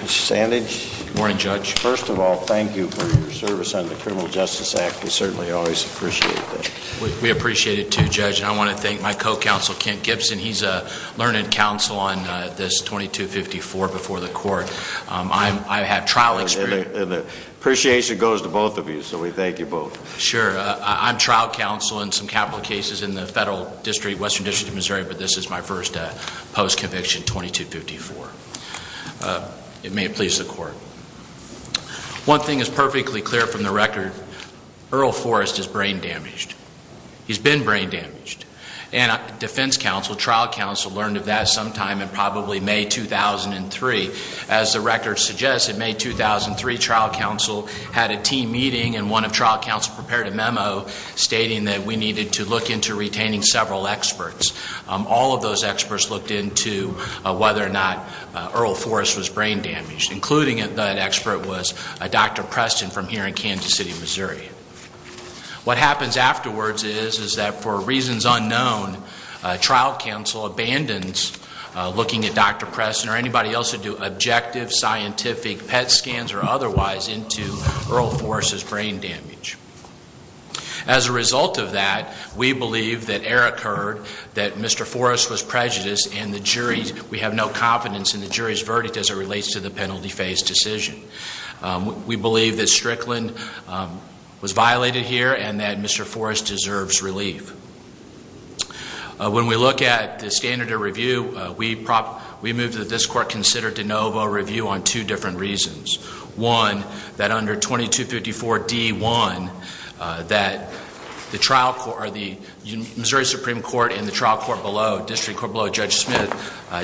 Mr. Sandage, first of all, thank you for your service on the Criminal Justice Act. We certainly always appreciate that. We appreciate it too, Judge, and I want to thank my co-counsel Kent Gibson. He's a learned counsel on this 2254 before the court. I've had trial experience. And the appreciation goes to both of you, so we thank you both. Sure. I'm trial counsel in some capital cases in the Federal District, Western District of Missouri, but this is my first post-conviction 2254. It may please the court. One thing is perfectly clear from the record. Earl Forrest is brain damaged. He's been brain damaged. And defense counsel, trial counsel, learned of that sometime in probably May 2003. As the record suggests, in May 2003, trial counsel had a team meeting and one of trial needed to look into retaining several experts. All of those experts looked into whether or not Earl Forrest was brain damaged, including that expert was Dr. Preston from here in Kansas City, Missouri. What happens afterwards is that for reasons unknown, trial counsel abandons looking at Dr. Preston or anybody else who'd do objective scientific PET scans or otherwise into Earl Forrest's brain damage. As a result of that, we believe that error occurred, that Mr. Forrest was prejudiced, and the jury, we have no confidence in the jury's verdict as it relates to the penalty phase decision. We believe that Strickland was violated here and that Mr. Forrest deserves relief. When we look at the standard of review, we move that this court consider de novo review on two different reasons. One, that under 2254D1, that the trial court or the Missouri Supreme Court and the trial court below, District Court below Judge Smith,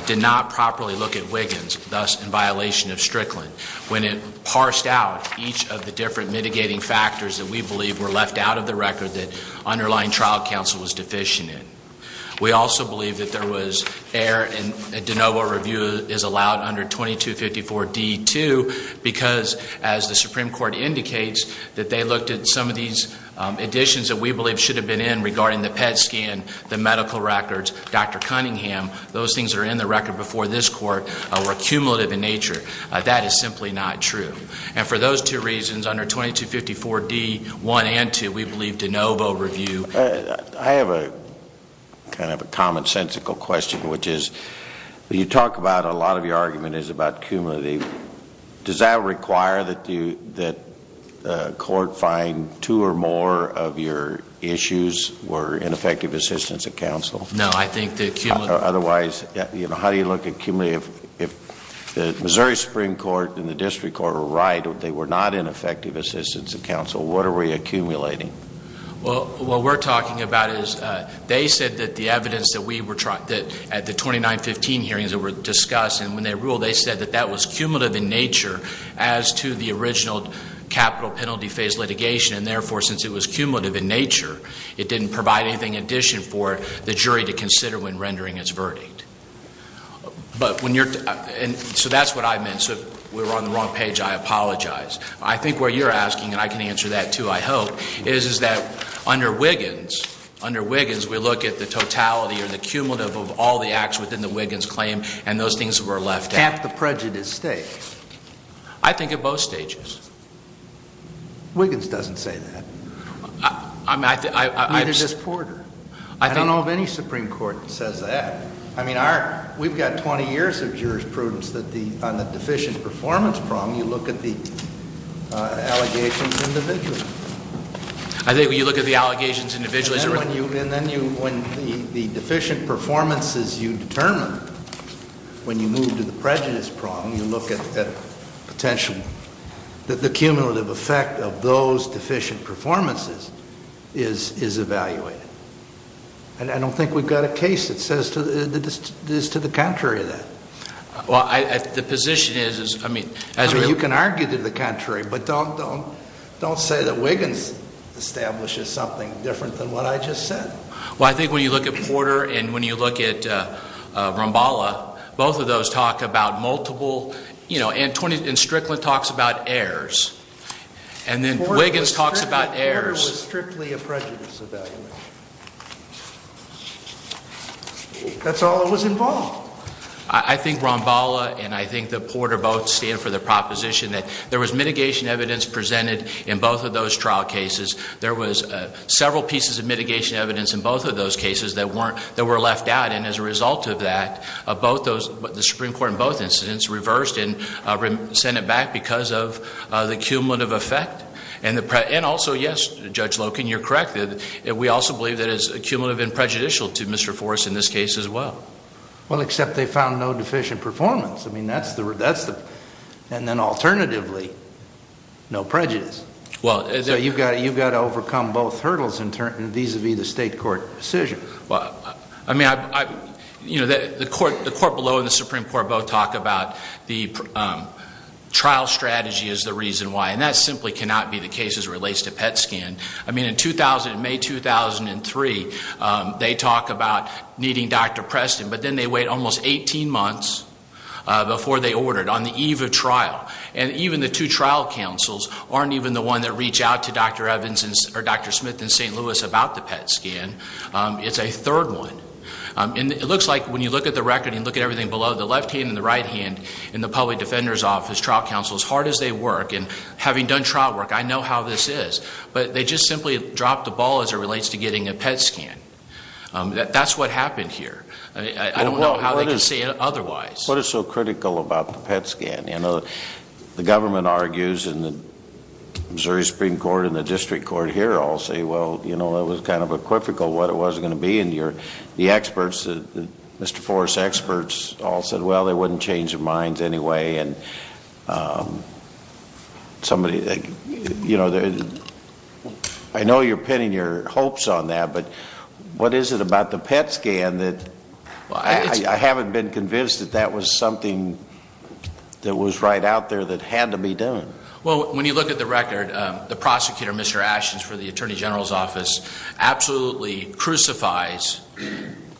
did not properly look at Wiggins, thus in violation of Strickland. When it parsed out each of the different mitigating factors that we believe were left out of the record that underlying trial counsel was deficient We also believe that there was error and de novo review is allowed under 2254D2 because, as the Supreme Court indicates, that they looked at some of these additions that we believe should have been in regarding the PET scan, the medical records, Dr. Cunningham, those things are in the record before this court, were cumulative in nature. That is simply not true. And for those two reasons, under 2254D1 and 2, we believe de novo review I have a kind of a commonsensical question, which is, you talk about a lot of your argument is about cumulative. Does that require that you, that the court find two or more of your issues were ineffective assistance of counsel? No, I think the cumulative Otherwise, how do you look at cumulative? If the Missouri Supreme Court and the District Court are right, they were not ineffective assistance of counsel, what are we accumulating? Well, what we're talking about is they said that the evidence that we were, that at the 2915 hearings that were discussed and when they ruled, they said that that was cumulative in nature as to the original capital penalty phase litigation. And therefore, since it was cumulative in nature, it didn't provide anything in addition for the jury to consider when rendering its verdict. But when you're, and so that's what I meant. So we were on the wrong page. I apologize. I think where you're asking, and I can answer that too, I hope, is, is that under Wiggins, under Wiggins, we look at the totality or the cumulative of all the acts within the Wiggins claim and those things that were left out. At the prejudice stage? I think at both stages. Wiggins doesn't say that. Neither does Porter. I don't know of any Supreme Court that says that. I mean, our, we've got 20 years of jurisprudence that the, on the deficient performance problem, you look at the allegations individually. I think when you look at the allegations individually. And then you, when the deficient performances you determine, when you move to the prejudice problem, you look at potential, that the cumulative effect of those deficient performances is, is evaluated. And I don't think we've got a case that says, is to the contrary of that. Well, I, the position is, is, I mean, as you can argue to the contrary, but don't, don't, don't say that Wiggins establishes something different than what I just said. Well, I think when you look at Porter and when you look at Ramballa, both of those talk about multiple, you know, and Strickland talks about errors. And then Wiggins talks about errors. Porter was strictly a prejudice evaluator. That's all that was involved. I, I think Ramballa and I think that Porter both stand for the proposition that there was mitigation evidence presented in both of those trial cases. There was several pieces of mitigation evidence in both of those cases that weren't, that were left out. And as a result of that, both those, the Supreme Court in both incidents reversed and sent it back because of the cumulative effect and the, and also, yes, Judge Loken, you're correct. We also believe that it's cumulative and prejudicial to Mr. Forrest in this case as well. Well, except they found no deficient performance. I mean, that's the, that's the, and then alternatively, no prejudice. Well, you've got to, you've got to overcome both hurdles in turn vis-a-vis the state court decision. Well, I mean, I, you know, the court, the court below and the Supreme Court both talk about the trial strategy is the reason why. And that simply cannot be the cases that relates to PET scan. I mean, in 2000, May 2003, they talk about needing Dr. Preston, but then they wait almost 18 months before they ordered on the eve of trial. And even the two trial counsels aren't even the one that reach out to Dr. Evans or Dr. Smith in St. Louis about the PET scan. It's a third one. And it looks like when you look at the record and you look at everything below, the left hand and the right hand in the public defender's office, trial counsel, as hard as they work, and having done trial work, I know how this is. But they just simply drop the ball as it relates to getting a PET scan. That's what happened here. I don't know how they can see it otherwise. What is so critical about the PET scan? You know, the government argues in the Missouri Supreme Court and the district court here all say, well, you know, it was kind of equivocal what it was going to be. And the experts, Mr. Forrest's experts all said, well, they wouldn't change their minds anyway. And somebody, you know, I know you're pinning your hopes on that, but what is it about the PET scan that I haven't been convinced that that was something that was right out there that had to be done? Well, when you look at the record, the prosecutor, Mr. Ashton, is for the Attorney General's absolutely crucifies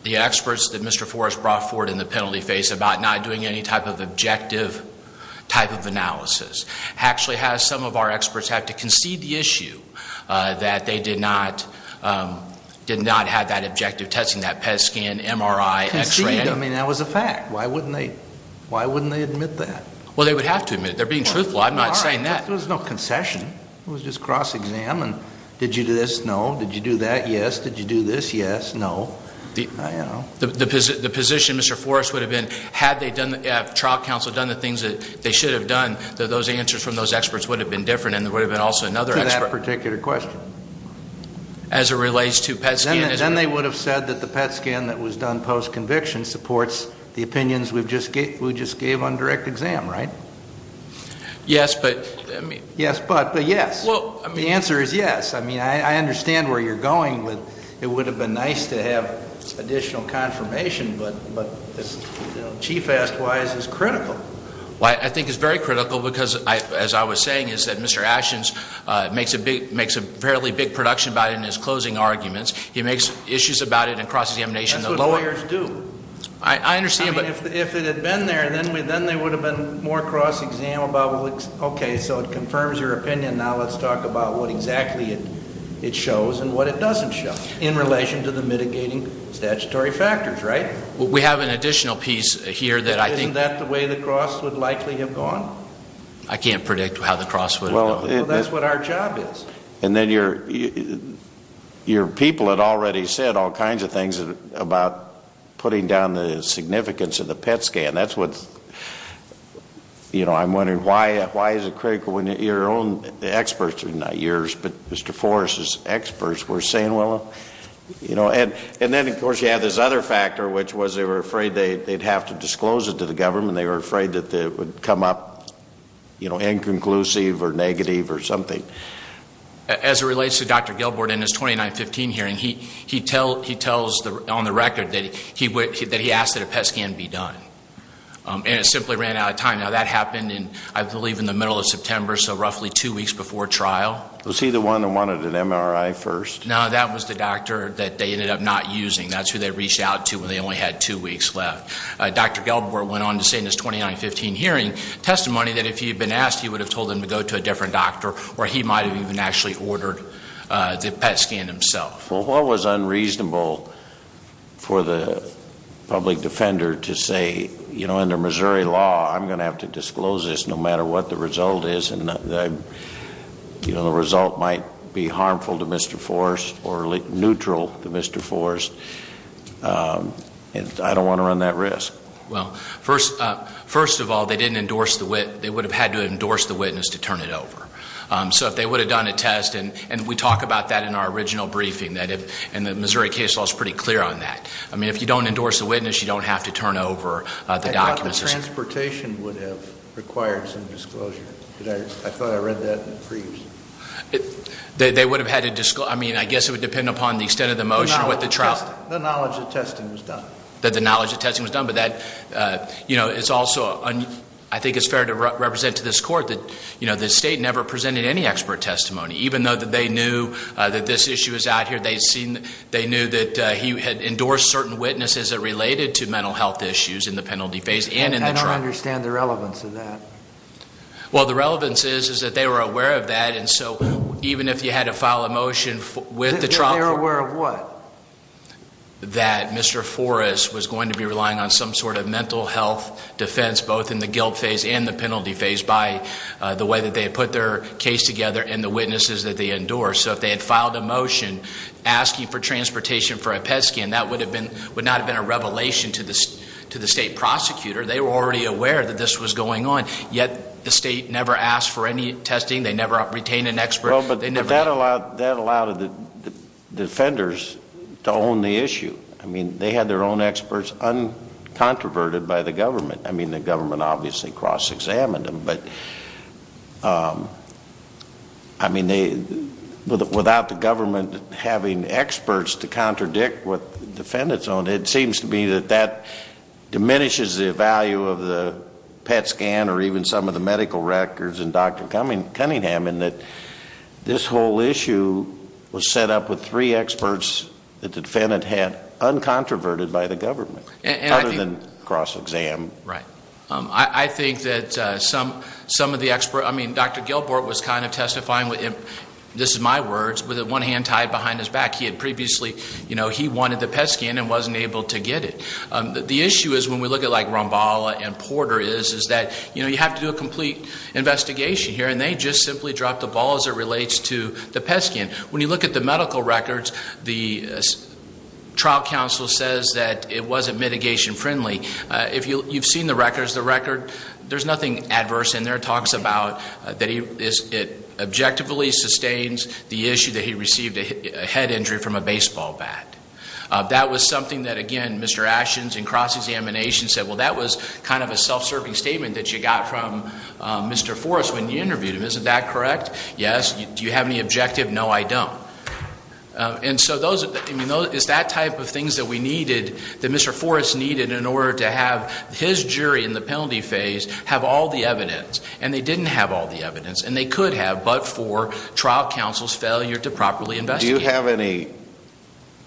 the experts that Mr. Forrest brought forward in the penalty phase about not doing any type of objective type of analysis. Actually has some of our experts have to concede the issue that they did not, did not have that objective testing, that PET scan, MRI, x-ray. Concede? I mean, that was a fact. Why wouldn't they, why wouldn't they admit that? Well, they would have to admit it. They're being truthful. I'm not saying that. There was no concession. It was just cross-examined. Did you do this? No. Did you do that? Yes. Did you do this? Yes. No. The position, Mr. Forrest, would have been, had they done, had trial counsel done the things that they should have done, that those answers from those experts would have been different and there would have been also another expert. To that particular question. As it relates to PET scan. Then they would have said that the PET scan that was done post-conviction supports the opinions we've just gave, we just gave on direct exam, right? Yes, but, I mean. Yes, but, but yes. The answer is yes. I mean, I understand where you're going with, it would have been nice to have additional confirmation, but, but, you know, chief asked why is this critical? Well, I, I think it's very critical because I, as I was saying is that Mr. Ashens makes a big, makes a fairly big production about it in his closing arguments. He makes issues about it and crosses the emanation, the lower. That's what lawyers do. I, I understand, but. Well, if, if it had been there, then we, then there would have been more cross-exam about what, okay, so it confirms your opinion, now let's talk about what exactly it, it shows and what it doesn't show in relation to the mitigating statutory factors, right? We have an additional piece here that I think. Isn't that the way the cross would likely have gone? I can't predict how the cross would have gone. Well, that's what our job is. And then your, your people had already said all kinds of things about putting down the significance of the PET scan. That's what's, you know, I'm wondering why, why is it critical when your own experts, not yours, but Mr. Forrest's experts were saying, well, you know, and then, of course, you have this other factor, which was they were afraid they, they'd have to disclose it to the government. They were afraid that it would come up, you know, inconclusive or negative or something. As it relates to Dr. Gilbert and his 2915 hearing, he, he tell, he tells the, on the And it simply ran out of time. Now, that happened in, I believe, in the middle of September, so roughly two weeks before trial. Was he the one that wanted an MRI first? No, that was the doctor that they ended up not using. That's who they reached out to when they only had two weeks left. Dr. Gilbert went on to say in his 2915 hearing testimony that if he had been asked, he would have told them to go to a different doctor or he might have even actually ordered the PET scan himself. Well, what was unreasonable for the public defender to say, you know, under Missouri law, I'm going to have to disclose this no matter what the result is and the, you know, the result might be harmful to Mr. Forrest or neutral to Mr. Forrest. And I don't want to run that risk. Well, first, first of all, they didn't endorse the wit, they would have had to endorse the witness to turn it over. So if they would have done a test, and, and we talk about that in our original briefing, that if, and the Missouri case law is pretty clear on that. I mean, if you don't endorse the witness, you don't have to turn over the documents. I thought the transportation would have required some disclosure. Did I, I thought I read that in the briefs. They, they would have had to disclose, I mean, I guess it would depend upon the extent of the motion or what the trial. The knowledge of testing was done. That the knowledge of testing was done, but that, you know, it's also, I think it's fair to represent to this court that, you know, the state never presented any expert testimony, even though that they knew that this issue was out here. They'd seen, they knew that he had endorsed certain witnesses that related to mental health issues in the penalty phase and in the trial. I don't understand the relevance of that. Well, the relevance is, is that they were aware of that. And so even if you had to file a motion with the trial court. They were aware of what? That Mr. Forrest was going to be relying on some sort of mental health defense, both in the guilt phase and the penalty phase by the way that they had put their case together and the witnesses that they endorsed. So if they had filed a motion asking for transportation for a PET scan, that would have been, would not have been a revelation to the, to the state prosecutor. They were already aware that this was going on. Yet the state never asked for any testing. They never retained an expert. Well, but that allowed, that allowed the defenders to own the issue. I mean, they had their own experts, uncontroverted by the government. I mean, the government obviously cross-examined them. But I mean, they, without the government having experts to contradict what the defendants owned, it seems to me that that diminishes the value of the PET scan or even some of the medical records in Dr. Cunningham in that this whole issue was set up with three experts that the defendant had uncontroverted by the government, other than cross-exam. Right. I think that some, some of the experts, I mean, Dr. Gilbert was kind of testifying with him, this is my words, with one hand tied behind his back. He had previously, you know, he wanted the PET scan and wasn't able to get it. The issue is when we look at like Romballa and Porter is, is that, you know, you have to do a complete investigation here. And they just simply dropped the ball as it relates to the PET scan. When you look at the medical records, the trial counsel says that it wasn't mitigation friendly. If you, you've seen the records, the record, there's nothing adverse in there. It talks about that he, it objectively sustains the issue that he received a head injury from a baseball bat. That was something that, again, Mr. Ashens in cross-examination said, well, that was kind of a self-serving statement that you got from Mr. Forrest when you interviewed him. Isn't that correct? Yes. Do you have any objective? No, I don't. And so those, I mean, those, it's that type of things that we needed, that Mr. Forrest needed in order to have his jury in the penalty phase have all the evidence. And they didn't have all the evidence. And they could have, but for trial counsel's failure to properly investigate. Do you have any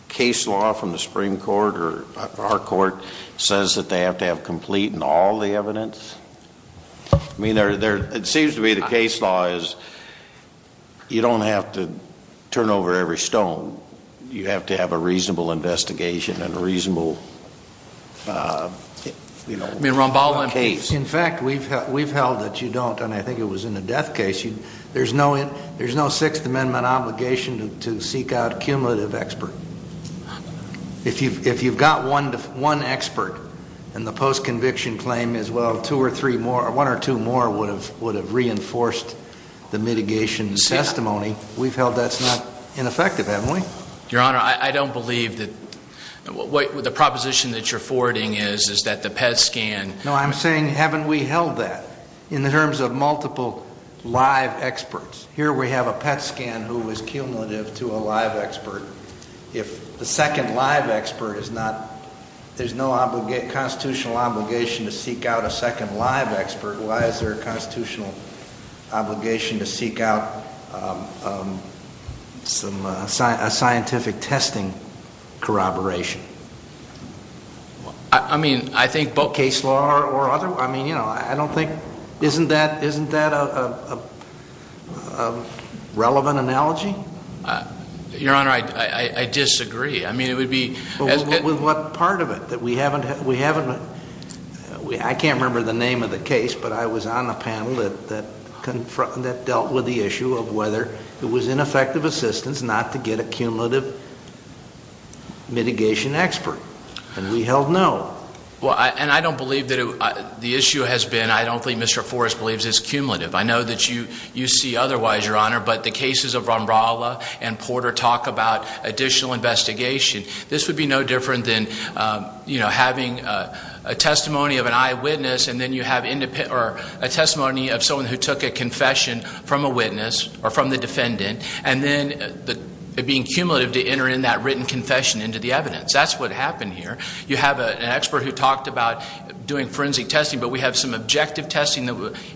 case law from the Supreme Court or our court says that they have to have complete and all the evidence? I mean, it seems to be the case law is you don't have to turn over every stone. You have to have a reasonable investigation and a reasonable case. In fact, we've held that you don't, and I think it was in the death case. There's no Sixth Amendment obligation to seek out cumulative expert. If you've got one expert, and the post-conviction claim is, well, two or three more, or one or two more would have reinforced the mitigation testimony. We've held that's not ineffective, haven't we? Your Honor, I don't believe that, the proposition that you're forwarding is, is that the PET scan. No, I'm saying haven't we held that? In the terms of multiple live experts. Here we have a PET scan who was cumulative to a live expert. If the second live expert is not, there's no constitutional obligation to seek out a second live expert. Why is there a constitutional obligation to seek out some scientific testing corroboration? I mean, I think both case law or other, I mean, you know, I don't think, isn't that a relevant analogy? Your Honor, I disagree. I mean, it would be- With what part of it? That we haven't, I can't remember the name of the case, but I was on a panel that dealt with the issue of whether it was ineffective assistance, not to get a cumulative mitigation expert, and we held no. Well, and I don't believe that the issue has been, I don't believe Mr. Forrest believes it's cumulative. I know that you see otherwise, Your Honor, but the cases of Rombralla and Porter talk about additional investigation. This would be no different than having a testimony of an eyewitness and then you have a testimony of someone who took a confession from a witness or from the defendant. And then it being cumulative to enter in that written confession into the evidence. That's what happened here. You have an expert who talked about doing forensic testing, but we have some objective testing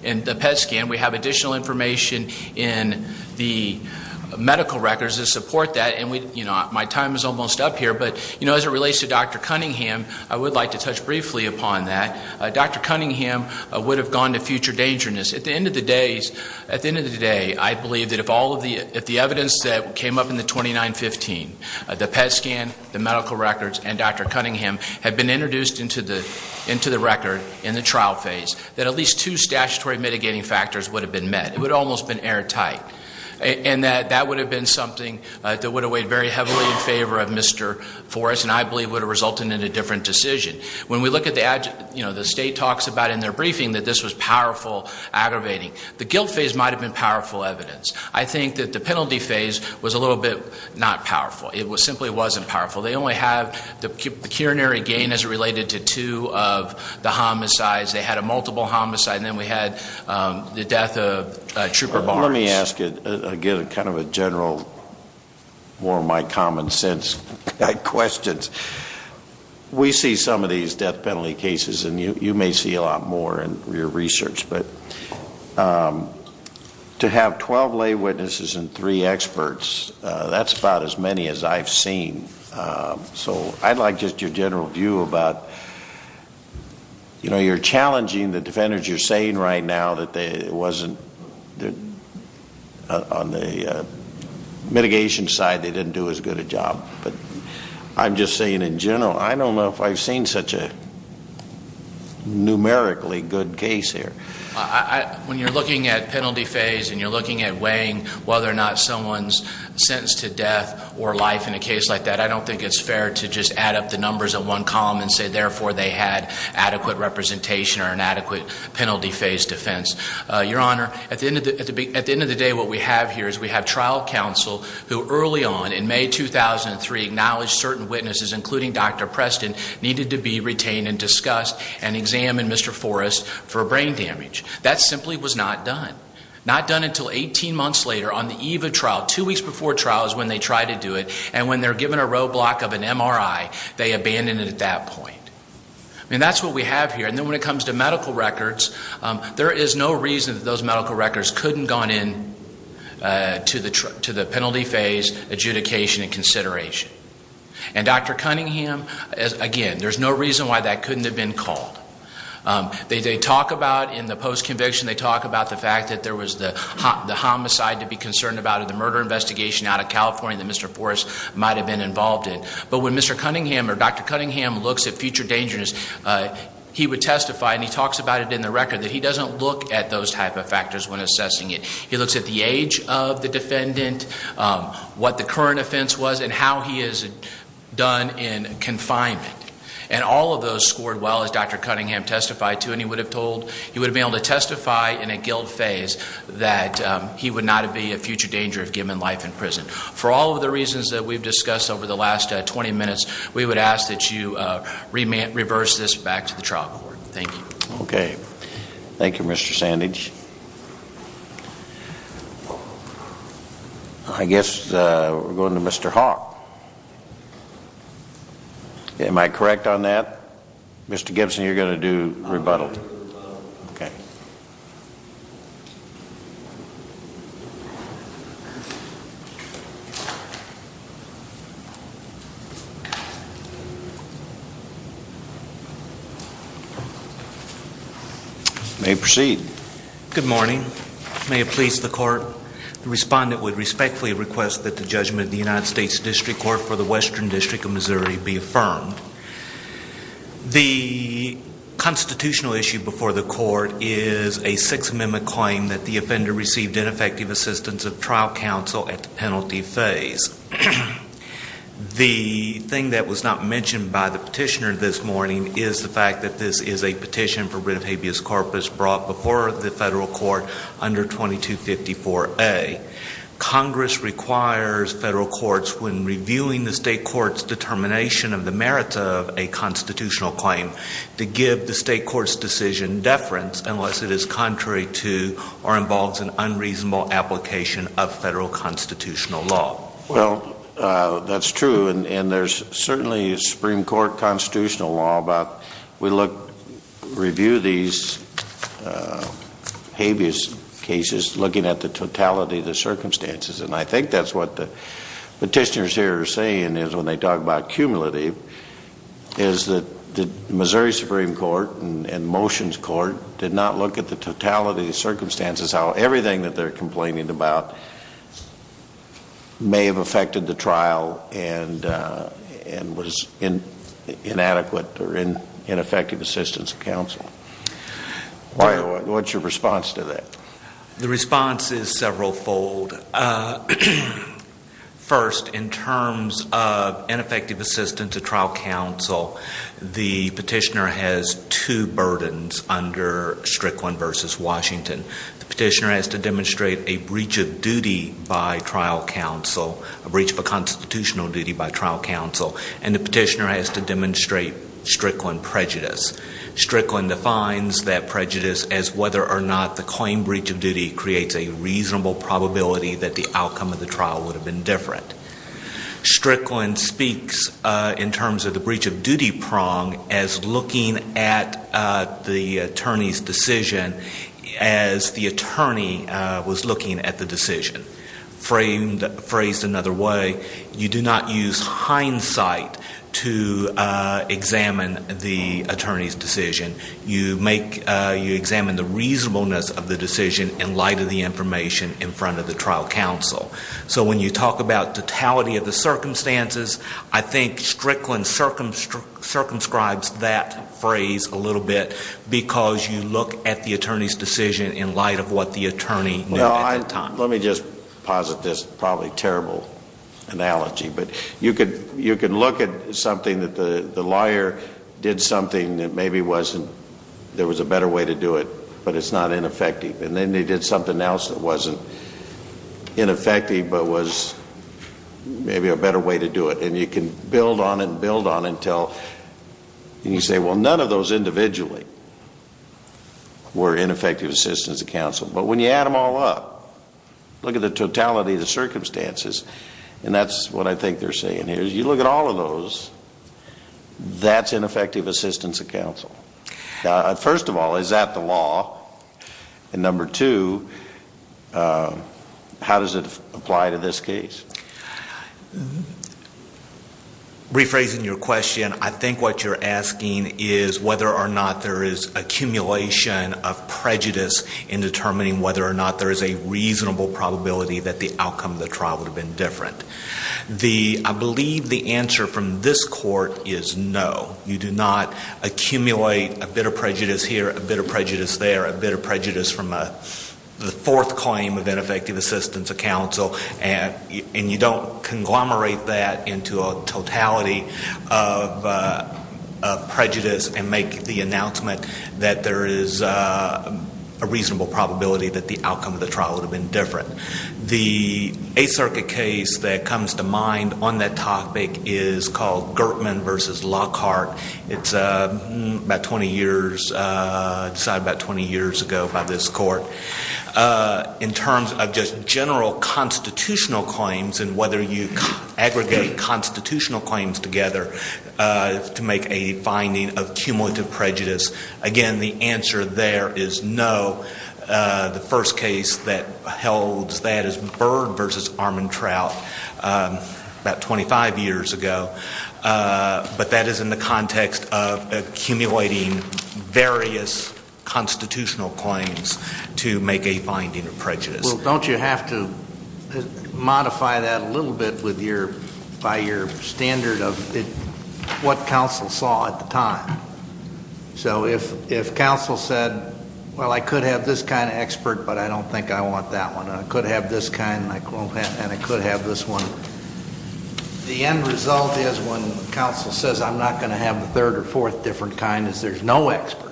in the PET scan. We have additional information in the medical records to support that. And my time is almost up here, but as it relates to Dr. Cunningham, I would like to touch briefly upon that. Dr. Cunningham would have gone to future dangerousness. At the end of the day, I believe that if all of the evidence that came up in the 2915, the PET scan, the medical records, and Dr. Cunningham had been introduced into the record in the trial phase, that at least two statutory mitigating factors would have been met. It would have almost been airtight. And that would have been something that would have weighed very heavily in favor of Mr. Forrest, and I believe would have resulted in a different decision. When we look at the state talks about in their briefing that this was powerful aggravating. The guilt phase might have been powerful evidence. I think that the penalty phase was a little bit not powerful. It simply wasn't powerful. They only have the curinary gain as it related to two of the homicides. They had a multiple homicide, and then we had the death of Trooper Barnes. Let me ask it again, kind of a general, more of my common sense questions. We see some of these death penalty cases, and you may see a lot more in your research. But to have 12 lay witnesses and three experts, that's about as many as I've seen. So I'd like just your general view about, you're challenging the defenders. You're saying right now that it wasn't, on the mitigation side, they didn't do as good a job. But I'm just saying in general, I don't know if I've seen such a numerically good case here. When you're looking at penalty phase and you're looking at weighing whether or not someone's sentenced to death or life in a case like that, I don't think it's fair to just add up the numbers in one column and say, therefore, they had adequate representation or an adequate penalty phase defense. Your Honor, at the end of the day, what we have here is we have trial counsel who early on, in May 2003, acknowledged certain witnesses, including Dr. Preston, needed to be retained and discussed and examined, Mr. Forrest, for brain damage. That simply was not done. Not done until 18 months later on the eve of trial, two weeks before trial is when they try to do it. And when they're given a roadblock of an MRI, they abandon it at that point. I mean, that's what we have here. And then when it comes to medical records, there is no reason that those medical records couldn't gone in to the penalty phase adjudication and consideration. And Dr. Cunningham, again, there's no reason why that couldn't have been called. They talk about, in the post conviction, they talk about the fact that there was the homicide to be concerned about, or the murder investigation out of California that Mr. Forrest might have been involved in. But when Mr. Cunningham or Dr. Cunningham looks at future dangerous, he would testify, and he talks about it in the record, that he doesn't look at those type of factors when assessing it. He looks at the age of the defendant, what the current offense was, and how he is done in confinement. And all of those scored well, as Dr. Cunningham testified to, and he would have been able to testify in a guilt phase that he would not be a future danger if given life in prison. For all of the reasons that we've discussed over the last 20 minutes, we would ask that you reverse this back to the trial court. Thank you. Okay. Thank you, Mr. Sandage. I guess we're going to Mr. Hawk. Am I correct on that? Mr. Gibson, you're going to do rebuttal. I'm going to do rebuttal. Okay. Thank you. May we proceed? Good morning. May it please the court, the respondent would respectfully request that the judgment of the United States District Court for the Western District of Missouri be affirmed. The constitutional issue before the court is a Sixth Amendment claim that the offender received ineffective assistance of trial counsel at the penalty phase. The thing that was not mentioned by the petitioner this morning is the fact that this is a petition for writ of habeas corpus brought before the federal court under 2254A. Congress requires federal courts, when reviewing the state court's determination of the merit of a constitutional claim, to give the state court's decision deference unless it is contrary to or involves an unreasonable application of federal constitutional law. Well, that's true, and there's certainly a Supreme Court constitutional law, but we look, review these habeas cases looking at the totality of the circumstances. And I think that's what the petitioners here are saying is when they talk about cumulative, is that the Missouri Supreme Court and Motions Court did not look at the totality of the circumstances, how everything that they're complaining about may have affected the trial and was inadequate or ineffective assistance of counsel. What's your response to that? The response is several fold. First, in terms of ineffective assistance of trial counsel, the petitioner has two burdens under Strickland versus Washington. The petitioner has to demonstrate a breach of duty by trial counsel, a breach of a constitutional duty by trial counsel, and the petitioner has to demonstrate Strickland prejudice. Strickland defines that prejudice as whether or not the claim breach of duty creates a reasonable probability that the outcome of the trial would have been different. Strickland speaks in terms of the breach of duty prong as looking at the attorney's decision as the attorney was looking at the decision. Phrased another way, you do not use hindsight to examine the attorney's decision. You examine the reasonableness of the decision in light of the information in front of the trial counsel. So when you talk about totality of the circumstances, I think Strickland circumscribes that phrase a little bit because you look at the attorney's decision in light of what the attorney knew at the time. Let me just posit this, probably terrible analogy, but you could look at something that the liar did something that maybe wasn't, there was a better way to do it, but it's not ineffective. And then they did something else that wasn't ineffective, but was maybe a better way to do it. And you can build on and build on until you say, well, none of those individually were ineffective assistance of counsel. But when you add them all up, look at the totality of the circumstances, and that's what I think they're saying here, is you look at all of those, that's ineffective assistance of counsel. First of all, is that the law? And number two, how does it apply to this case? Rephrasing your question, I think what you're asking is whether or not there is accumulation of prejudice in determining whether or not there is a reasonable probability that the outcome of the trial would have been different. I believe the answer from this court is no. You do not accumulate a bit of prejudice here, a bit of prejudice there, a bit of prejudice from the fourth claim of ineffective assistance of counsel. And you don't conglomerate that into a totality of prejudice and make the announcement that there is a reasonable probability that the outcome of the trial would have been different. The Eighth Circuit case that comes to mind on that topic is called Gertman versus Lockhart. It's about 20 years, decided about 20 years ago by this court. In terms of just general constitutional claims and whether you aggregate constitutional claims together to make a finding of cumulative prejudice. Again, the answer there is no. The first case that held that is Bird versus Armantrout about 25 years ago. But that is in the context of accumulating various constitutional claims to make a finding of prejudice. Well, don't you have to modify that a little bit by your standard of what counsel saw at the time? So if counsel said, well, I could have this kind of expert, but I don't think I want that one. I could have this kind, and I could have this one. The end result is when counsel says, I'm not going to have the third or fourth different kind, is there's no expert.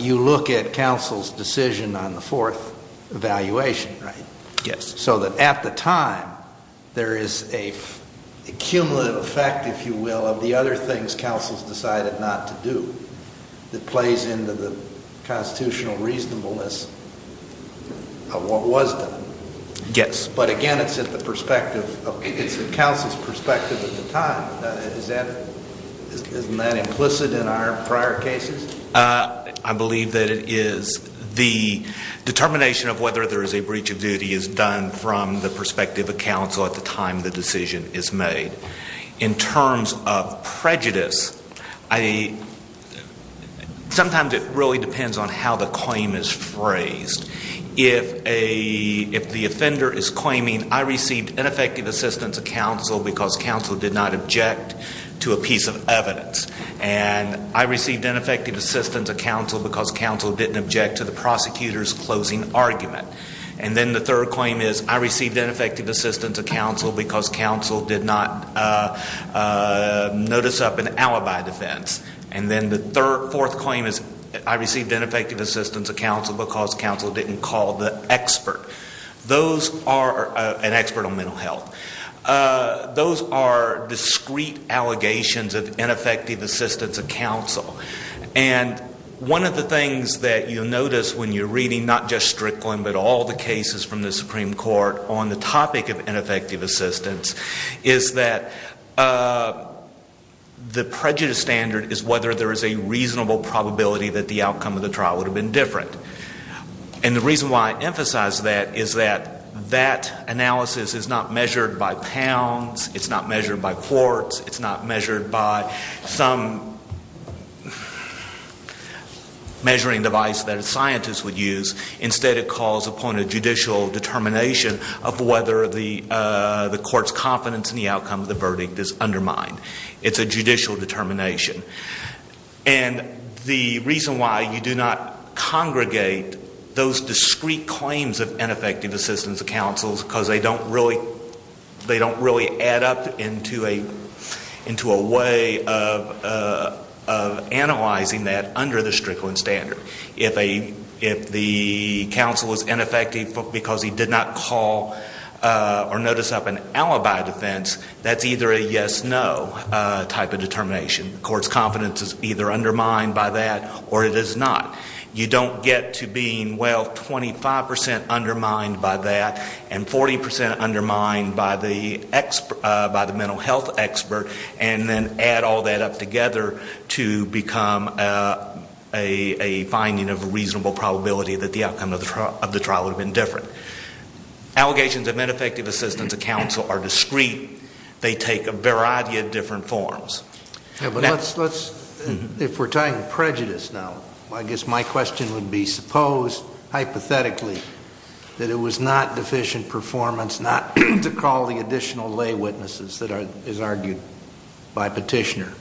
You look at counsel's decision on the fourth evaluation, right? Yes. So that at the time, there is a cumulative effect, if you will, of the other things counsel's decided not to do that plays into the constitutional reasonableness of what was done. Yes. But again, it's at the perspective of, it's at counsel's perspective at the time. Isn't that implicit in our prior cases? I believe that it is. The determination of whether there is a breach of duty is done from the perspective of counsel at the time the decision is made. In terms of prejudice, sometimes it really depends on how the claim is phrased. If the offender is claiming, I received ineffective assistance of counsel because counsel did not object to a piece of evidence. And I received ineffective assistance of counsel because counsel didn't object to the prosecutor's closing argument. And then the third claim is, I received ineffective assistance of counsel because counsel did not notice up an alibi defense. And then the fourth claim is, I received ineffective assistance of counsel because counsel didn't call the expert. Those are, an expert on mental health. Those are discrete allegations of ineffective assistance of counsel. And one of the things that you'll notice when you're reading, not just Strickland, but all the cases from the Supreme Court on the topic of ineffective assistance, is that the prejudice standard is whether there is a reasonable probability that the outcome of the trial would have been different. And the reason why I emphasize that is that that analysis is not measured by pounds, it's not measured by quarts, it's not measured by some measuring device that a scientist would use. Instead, it calls upon a judicial determination of whether the court's confidence in the outcome of the verdict is undermined. It's a judicial determination. And the reason why you do not congregate those discrete claims of ineffective assistance of counsel is because they don't really, they don't really add up into a way of analyzing that under the Strickland standard. If the counsel is ineffective because he did not call or notice of an alibi defense, that's either a yes, no type of determination. Court's confidence is either undermined by that or it is not. You don't get to being, well, 25% undermined by that and 40% undermined by the mental health expert. And then add all that up together to become a finding of a reasonable probability that the outcome of the trial would have been different. Allegations of ineffective assistance of counsel are discrete. They take a variety of different forms. Yeah, but let's, if we're talking prejudice now, I guess my question would be, suppose, hypothetically, that it was not deficient performance, not to call the additional lay witnesses that is argued by petitioner,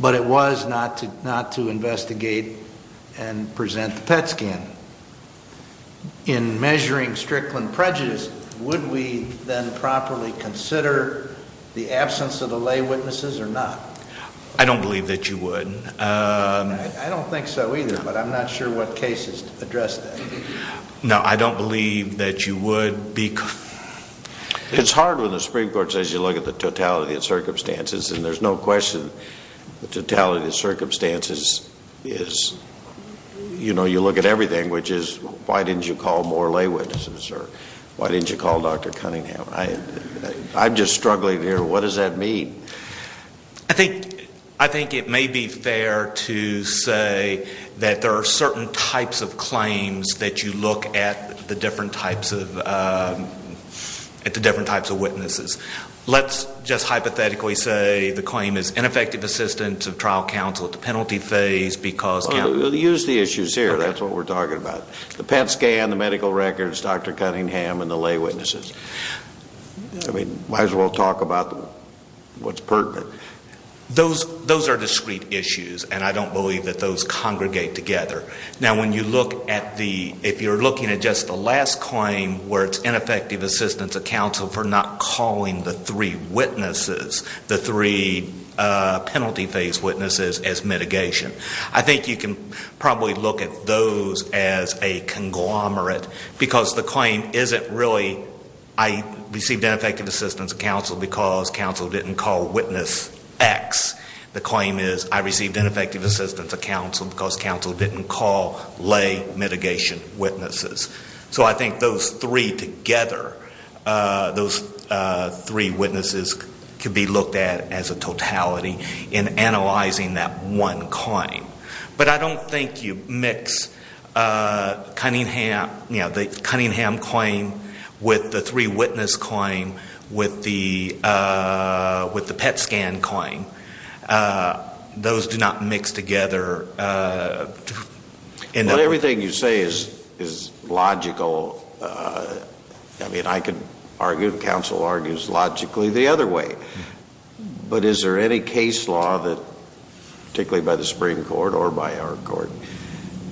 but it was not to investigate and present the PET scan. In measuring Strickland prejudice, would we then properly consider the absence of the lay witnesses or not? I don't believe that you would. I don't think so either, but I'm not sure what cases address that. No, I don't believe that you would be. It's hard when the Supreme Court says you look at the totality of circumstances, and there's no question. The totality of circumstances is, you look at everything, which is, why didn't you call more lay witnesses, or why didn't you call Dr. Cunningham? I'm just struggling here, what does that mean? I think it may be fair to say that there are certain types of claims that you look at the different types of witnesses. Let's just hypothetically say the claim is ineffective assistance of trial counsel at the penalty phase because- We'll use the issues here, that's what we're talking about. The PET scan, the medical records, Dr. Cunningham, and the lay witnesses. I mean, might as well talk about what's pertinent. Those are discrete issues, and I don't believe that those congregate together. Now, if you're looking at just the last claim, where it's ineffective assistance of counsel for not calling the three witnesses, the three penalty phase witnesses, as mitigation. I think you can probably look at those as a conglomerate, because the claim isn't really, I received ineffective assistance of counsel because counsel didn't call witness X. The claim is, I received ineffective assistance of counsel because counsel didn't call lay mitigation witnesses. So I think those three together, those three witnesses could be looked at as a totality in analyzing that one claim. But I don't think you mix Cunningham, you know, the Cunningham claim with the three witness claim with the PET scan claim. Those do not mix together in- Not everything you say is logical. I mean, I could argue, counsel argues logically the other way. But is there any case law that, particularly by the Supreme Court or by our court,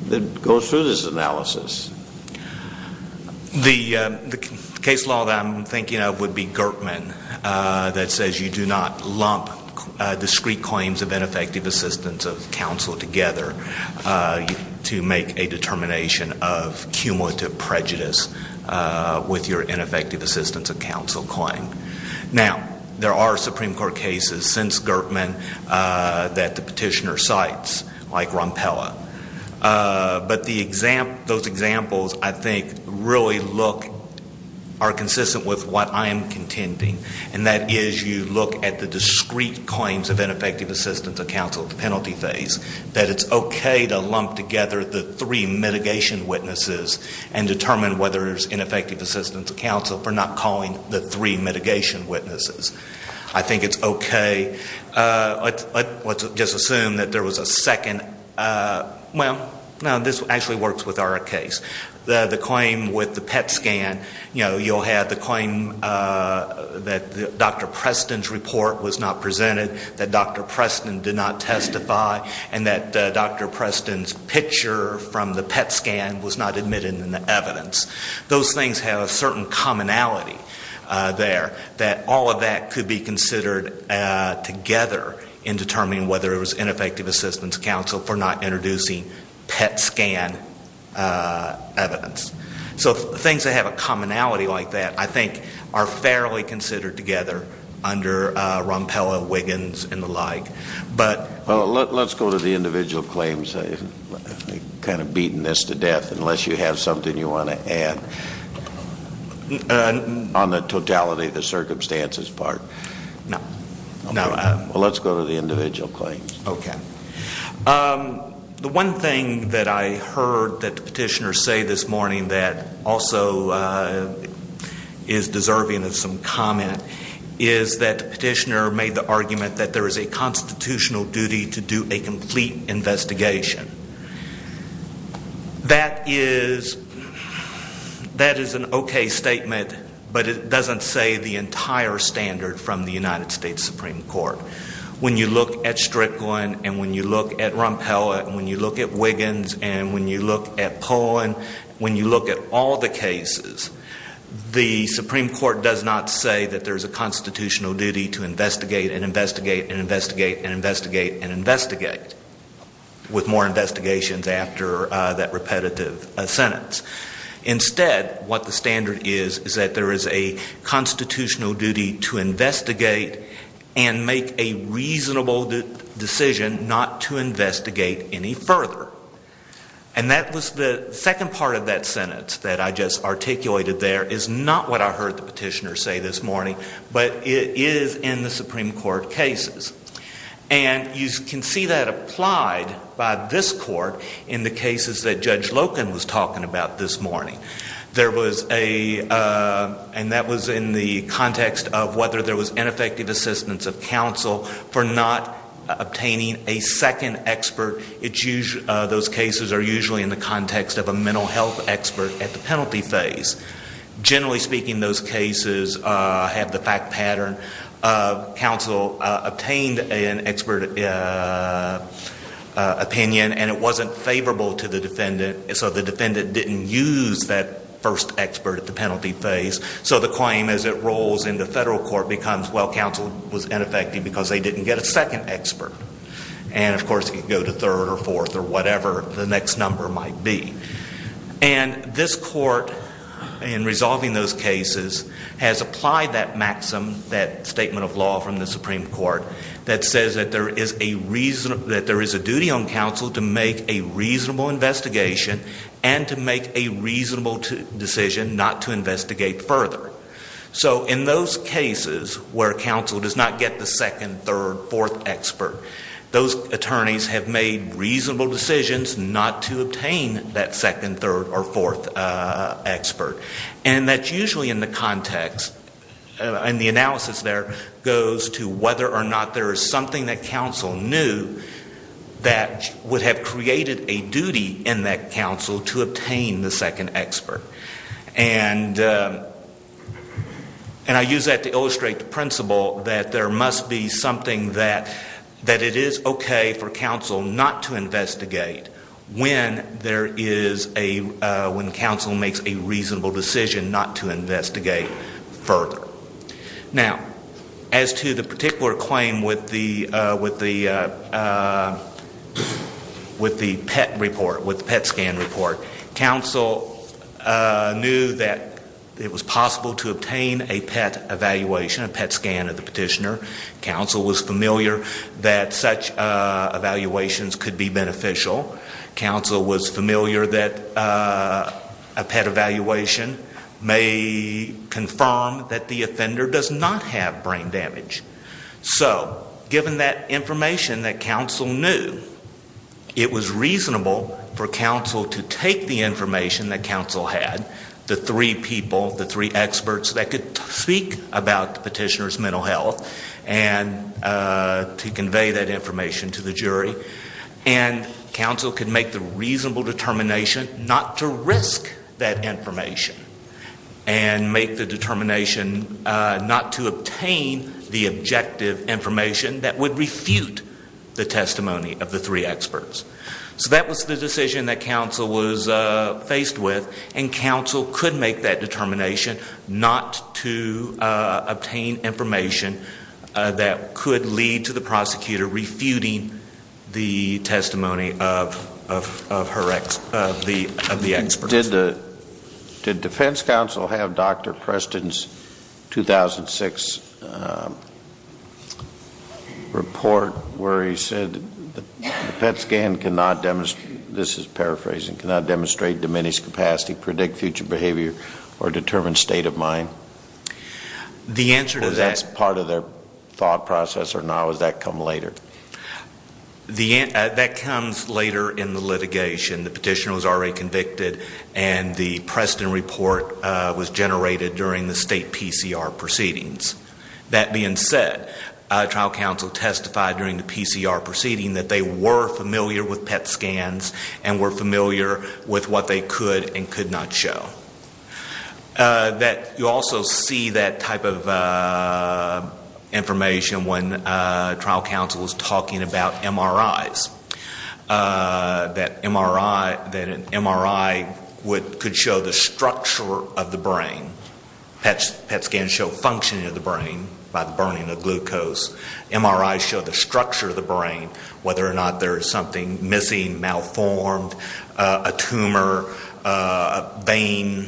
that goes through this analysis? The case law that I'm thinking of would be Gertman, that says you do not lump discrete claims of ineffective assistance of counsel together to make a determination of cumulative prejudice with your ineffective assistance of counsel claim. Now, there are Supreme Court cases since Gertman that the petitioner cites, like Ronpella. But those examples, I think, really look, are consistent with what I am contending. And that is, you look at the discrete claims of ineffective assistance of counsel, the penalty phase, that it's okay to lump together the three mitigation witnesses and determine whether there's ineffective assistance of counsel for not calling the three mitigation witnesses. I think it's okay. Let's just assume that there was a second, well, no, this actually works with our case. The claim with the PET scan, you know, you'll have the claim that Dr. Preston's report was not presented, that Dr. Preston's report was not submitted in the evidence. Those things have a certain commonality there, that all of that could be considered together in determining whether it was ineffective assistance of counsel for not introducing PET scan evidence. So things that have a commonality like that, I think, are fairly considered together under Ronpella, Wiggins, and the like. Let's go to the individual claims, kind of beating this to death, unless you have something you want to add on the totality of the circumstances part. No. Okay. Well, let's go to the individual claims. Okay. The one thing that I heard that the petitioner say this morning that also is deserving of some comment is that the petitioner made the argument that there is a constitutional duty to do a complete investigation. That is an okay statement, but it doesn't say the entire standard from the United States Supreme Court. When you look at Strickland, and when you look at Ronpella, and when you look at Wiggins, and when you look at Pullen, when you look at all the cases, the Supreme Court does not say that there is a constitutional duty to investigate and investigate and investigate and investigate and investigate with more investigations after that repetitive sentence. Instead, what the standard is, is that there is a constitutional duty to investigate and make a reasonable decision not to investigate any further. And that was the second part of that sentence that I just articulated there is not what I heard the petitioner say this morning, but it is in the Supreme Court cases. And you can see that applied by this court in the cases that Judge Loken was talking about this morning. There was a, and that was in the context of whether there was ineffective assistance of counsel for not obtaining a second expert. Those cases are usually in the context of a mental health expert at the penalty phase. Generally speaking, those cases have the fact pattern of counsel obtained an expert opinion and it wasn't favorable to the defendant, so the defendant didn't use that first expert at the penalty phase. So the claim as it rolls into federal court becomes, well, counsel was ineffective because they didn't get a second expert. And of course, it could go to third or fourth or whatever the next number might be. And this court in resolving those cases has applied that maxim, that statement of law from the Supreme Court that says that there is a reason, that there is a duty on counsel to make a reasonable investigation and to make a reasonable decision not to investigate further. So in those cases where counsel does not get the second, third, fourth expert, those attorneys have made reasonable decisions not to obtain that second, third, or fourth expert. And that's usually in the context, and the analysis there goes to whether or not there is something that counsel knew that would have created a duty in that counsel to obtain the second expert. And I use that to illustrate the principle that there must be something that it is okay for counsel not to investigate when there is a, when counsel makes a reasonable decision not to investigate further. Now, as to the particular claim with the PET report, with the PET scan report, counsel knew that it was possible to obtain a PET evaluation, a PET scan of the petitioner. Counsel was familiar that such evaluations could be beneficial. Counsel was familiar that a PET evaluation may confirm that the offender does not have brain damage. So given that information that counsel knew, it was reasonable for counsel to take the information that counsel had, the three people, the three experts that could speak about the petitioner's mental health, and to convey that information to the jury. And counsel could make the reasonable determination not to risk that information and make the determination not to obtain the objective information that would refute the testimony of the three experts. So that was the decision that counsel was faced with, and counsel could make that determination not to obtain information that could lead to the prosecutor refuting the testimony of her, of the expert. Did the, did defense counsel have Dr. Preston's 2006 report where he said the PET scan cannot demonstrate, this is paraphrasing, cannot demonstrate diminished capacity, predict future behavior, or determine state of mind? The answer to that. Or that's part of their thought process, or no, does that come later? That comes later in the litigation. The petitioner was already convicted and the Preston report was generated during the state PCR proceedings. That being said, trial counsel testified during the PCR proceeding that they were familiar with PET scans and were familiar with what they could and could not show. That you also see that type of information when trial counsel is talking about MRIs. That MRI, that an MRI could show the structure of the brain. PET scans show functioning of the brain by the burning of glucose. MRIs show the structure of the brain, whether or not there is something missing, malformed, a tumor, a vein,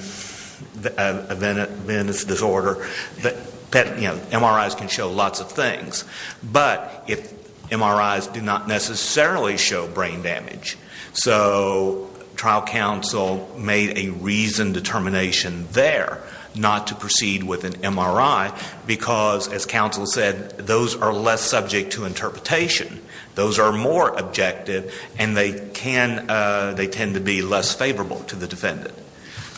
a venous disorder, that, you know, MRIs can show lots of things. But if MRIs do not necessarily show brain damage, so trial counsel made a reasoned determination there not to proceed with an MRI because, as counsel said, those are less subject to interpretation. Those are more objective and they tend to be less favorable to the defendant.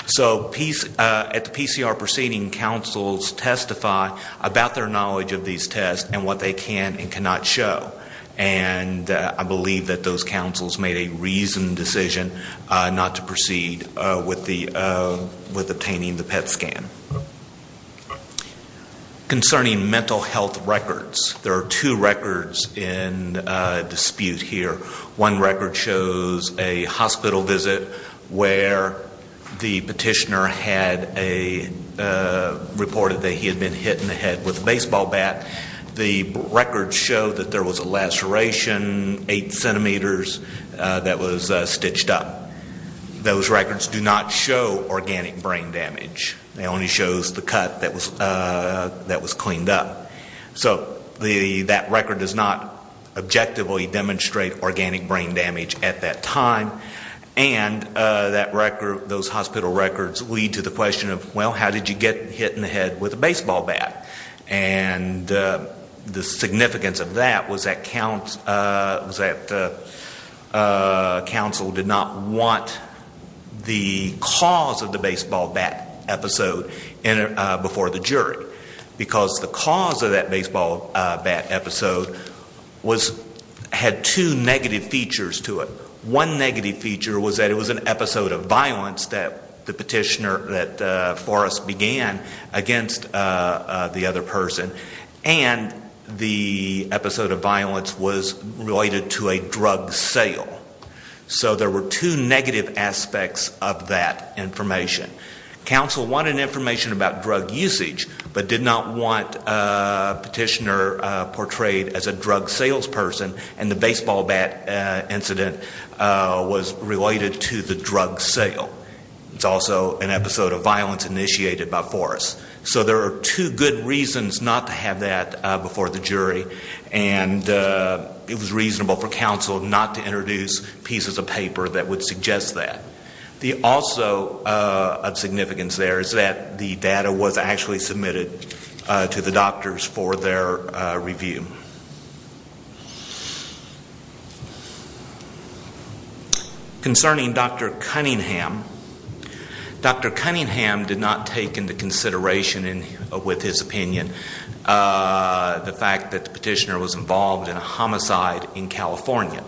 So at the PCR proceeding, counsels testify about their knowledge of these tests and what they can and cannot show. And I believe that those counsels made a reasoned decision not to proceed with obtaining the PET scan. Concerning mental health records, there are two records in dispute here. One record shows a hospital visit where the petitioner had reported that he had been hit in the head with a baseball bat. The records show that there was a laceration, eight centimeters, that was stitched up. Those records do not show organic brain damage. It only shows the cut that was cleaned up. So that record does not objectively demonstrate organic brain damage at that time. And that record, those hospital records, lead to the question of, well, how did you get hit in the head with a baseball bat? And the significance of that was that counsel did not want the cause of the baseball bat episode before the jury. Because the cause of that baseball bat episode had two negative features to it. One negative feature was that it was an episode of violence that the petitioner, that Forrest, began against the other person. And the episode of violence was related to a drug sale. So there were two negative aspects of that information. Counsel wanted information about drug usage, but did not want a petitioner portrayed as a drug salesperson. And the baseball bat incident was related to the drug sale. It's also an episode of violence initiated by Forrest. So there are two good reasons not to have that before the jury. And it was reasonable for counsel not to introduce pieces of paper that would suggest that. The also of significance there is that the data was actually submitted to the doctors for their review. Concerning Dr. Cunningham, Dr. Cunningham did not take into consideration, with his opinion, the fact that the petitioner was involved in a homicide in California.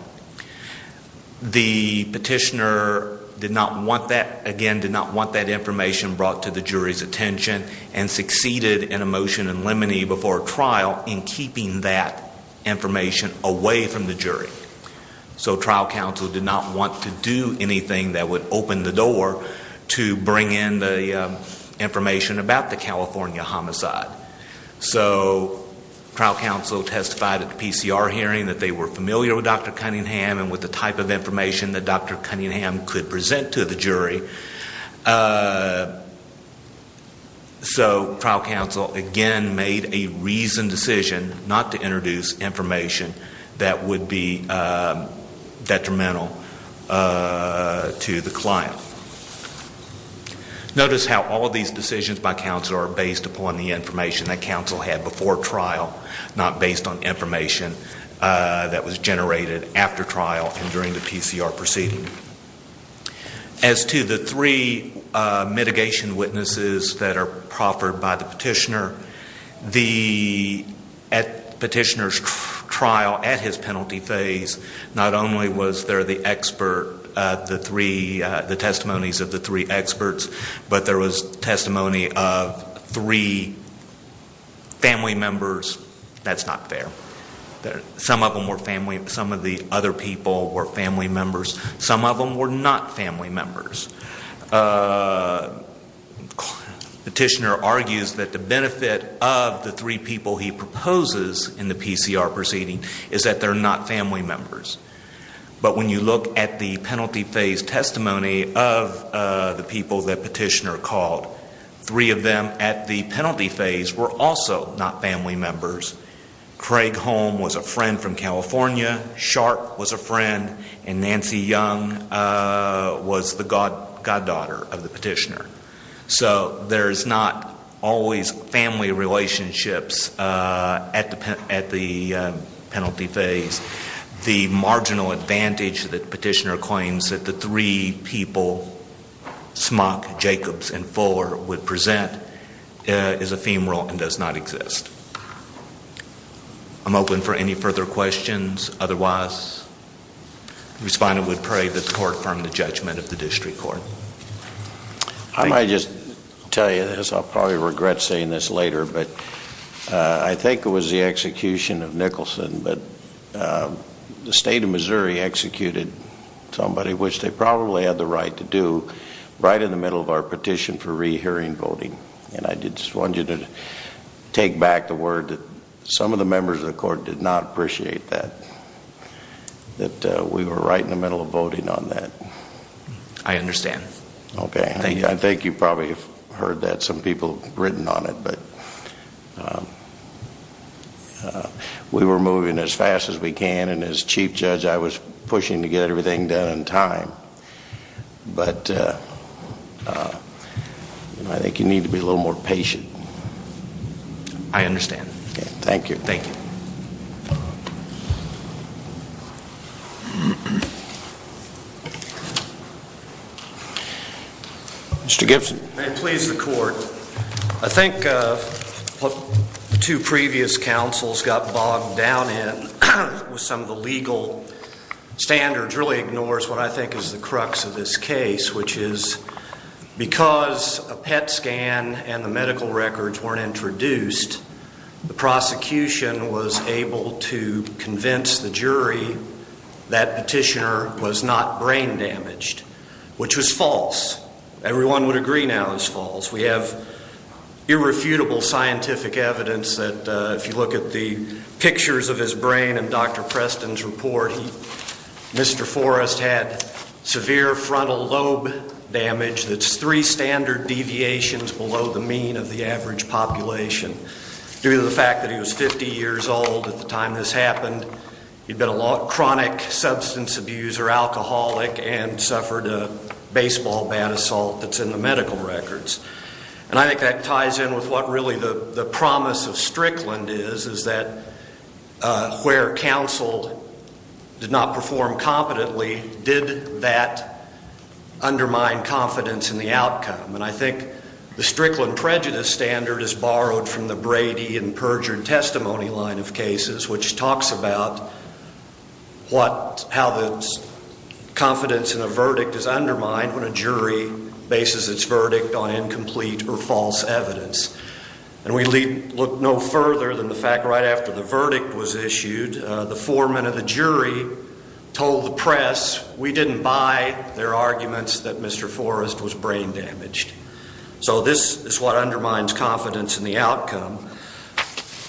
The petitioner, again, did not want that information brought to the jury's attention and succeeded in a motion in limine before trial in keeping that information away from the jury. So trial counsel did not want to do anything that would open the door to bring in the information about the California homicide. So trial counsel testified at the PCR hearing that they were familiar with Dr. Cunningham and with the type of information that Dr. Cunningham could present to the jury. So trial counsel, again, made a reasoned decision not to introduce information that would be detrimental to the client. Notice how all these decisions by counsel are based upon the information that counsel had before trial, not based on information that was generated after trial and during the PCR proceeding. As to the three mitigation witnesses that are proffered by the petitioner, the petitioner's trial at his penalty phase, not only was there the expert, the three, the testimonies of the three experts, but there was testimony of three family members. That's not fair. Some of them were family, some of the other people were family members. Some of them were not family members. The petitioner argues that the benefit of the three people he proposes in the PCR proceeding is that they're not family members. But when you look at the penalty phase testimony of the people that petitioner called, three of them at the penalty phase were also not family members. Craig Holm was a friend from California, Sharp was a friend, and Nancy Young was the goddaughter of the petitioner. So there's not always family relationships at the penalty phase. The marginal advantage that petitioner claims that the three people, Smock, Jacobs, and Fuller, would present is ephemeral and does not exist. I'm open for any further questions. Otherwise, the respondent would pray that the court firm the judgment of the district court. I might just tell you this. I'll probably regret saying this later, but I think it was the execution of Nicholson that the state of Missouri executed somebody, which they probably had the right to do, right in the middle of our petition for rehearing voting. And I just want you to take back the word that some of the members of the court did not appreciate that, that we were right in the middle of voting on that. I understand. Okay. I think you probably have heard that. Some people have written on it. But we were moving as fast as we can. And as chief judge, I was pushing to get everything done in time. But I think you need to be a little more patient. I understand. Thank you. Thank you. Mr. Gibson. May it please the court. I think what the two previous counsels got bogged down in with some of the legal standards really ignores what I think is the crux of this case, which is because a PET scan and the medical records weren't introduced, the prosecution was able to convince the jury that petitioner was not brain damaged, which was false. Everyone would agree now it's false. We have irrefutable scientific evidence that if you look at the pictures of his brain and Dr. Preston's report, Mr. Forrest had severe frontal lobe damage that's three standard deviations below the mean of the average population. Due to the fact that he was 50 years old at the time this happened, he'd been a chronic substance abuser, alcoholic, and suffered a baseball bat assault that's in the medical records. And I think that ties in with what really the promise of Strickland is, is that where counsel did not perform competently, did that undermine confidence in the outcome. And I think the Strickland prejudice standard is borrowed from the Brady and Perjure and Testimony line of cases, which talks about how the confidence in a verdict is undermined when a jury bases its verdict on incomplete or false evidence. And we look no further than the fact right after the verdict was issued, the foreman of the jury told the press, we didn't buy their arguments that Mr. Forrest was brain damaged. So this is what undermines confidence in the outcome.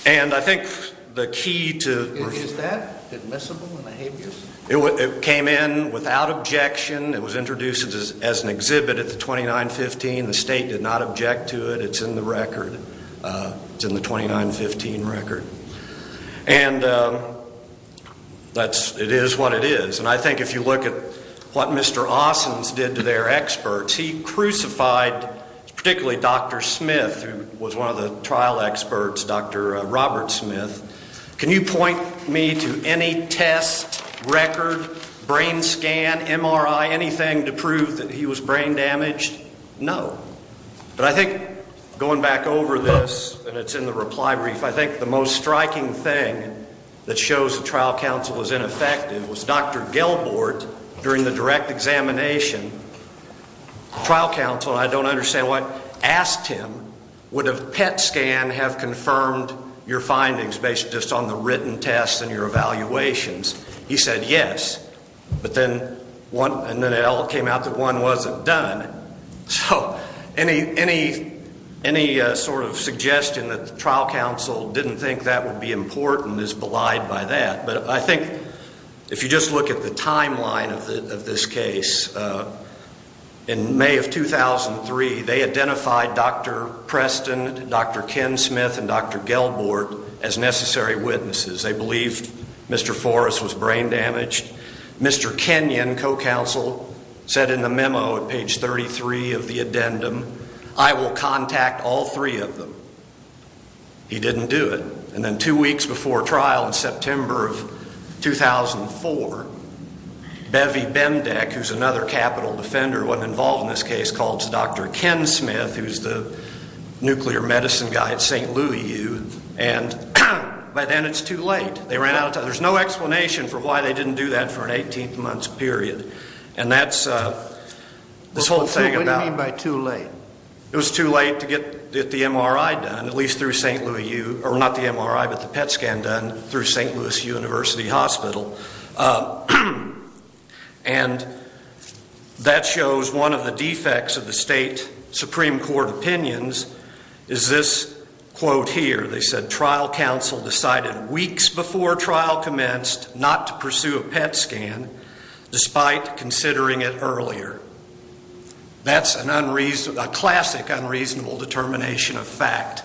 And I think the key to... Is that admissible in the habeas? It came in without objection. It was introduced as an exhibit at the 2915. The state did not object to it. It's in the record. It's in the 2915 record. And it is what it is. And I think if you look at what Mr. Austin's did to their experts, he crucified particularly Dr. Smith, who was one of the trial experts, Dr. Robert Smith. Can you point me to any test, record, brain scan, MRI, anything to prove that he was brain damaged? No. But I think going back over this, and it's in the reply brief, I think the most striking thing that shows the trial counsel was ineffective and it was Dr. Gelbort during the direct examination. Trial counsel, I don't understand why, asked him would a PET scan have confirmed your findings based just on the written tests and your evaluations? He said yes. But then it all came out that one wasn't done. So any sort of suggestion that the trial counsel didn't think that would be important is belied by that. But I think if you just look at the timeline of this case, in May of 2003 they identified Dr. Preston, Dr. Ken Smith, and Dr. Gelbort as necessary witnesses. They believed Mr. Forrest was brain damaged. Mr. Kenyon, co-counsel, said in the memo at page 33 of the addendum, I will contact all three of them. He didn't do it. And then two weeks before trial in September of 2004, Bevy Bendeck, who's another capital defender who wasn't involved in this case, called Dr. Ken Smith, who's the nuclear medicine guy at St. Louis U, and by then it's too late. They ran out of time. There's no explanation for why they didn't do that for an 18-month period. What do you mean by too late? It was too late to get the MRI done, at least through St. Louis U, or not the MRI, but the PET scan done through St. Louis University Hospital. And that shows one of the defects of the state Supreme Court opinions is this quote here. They said, Trial counsel decided weeks before trial commenced not to pursue a PET scan, despite considering it earlier. That's a classic unreasonable determination of fact.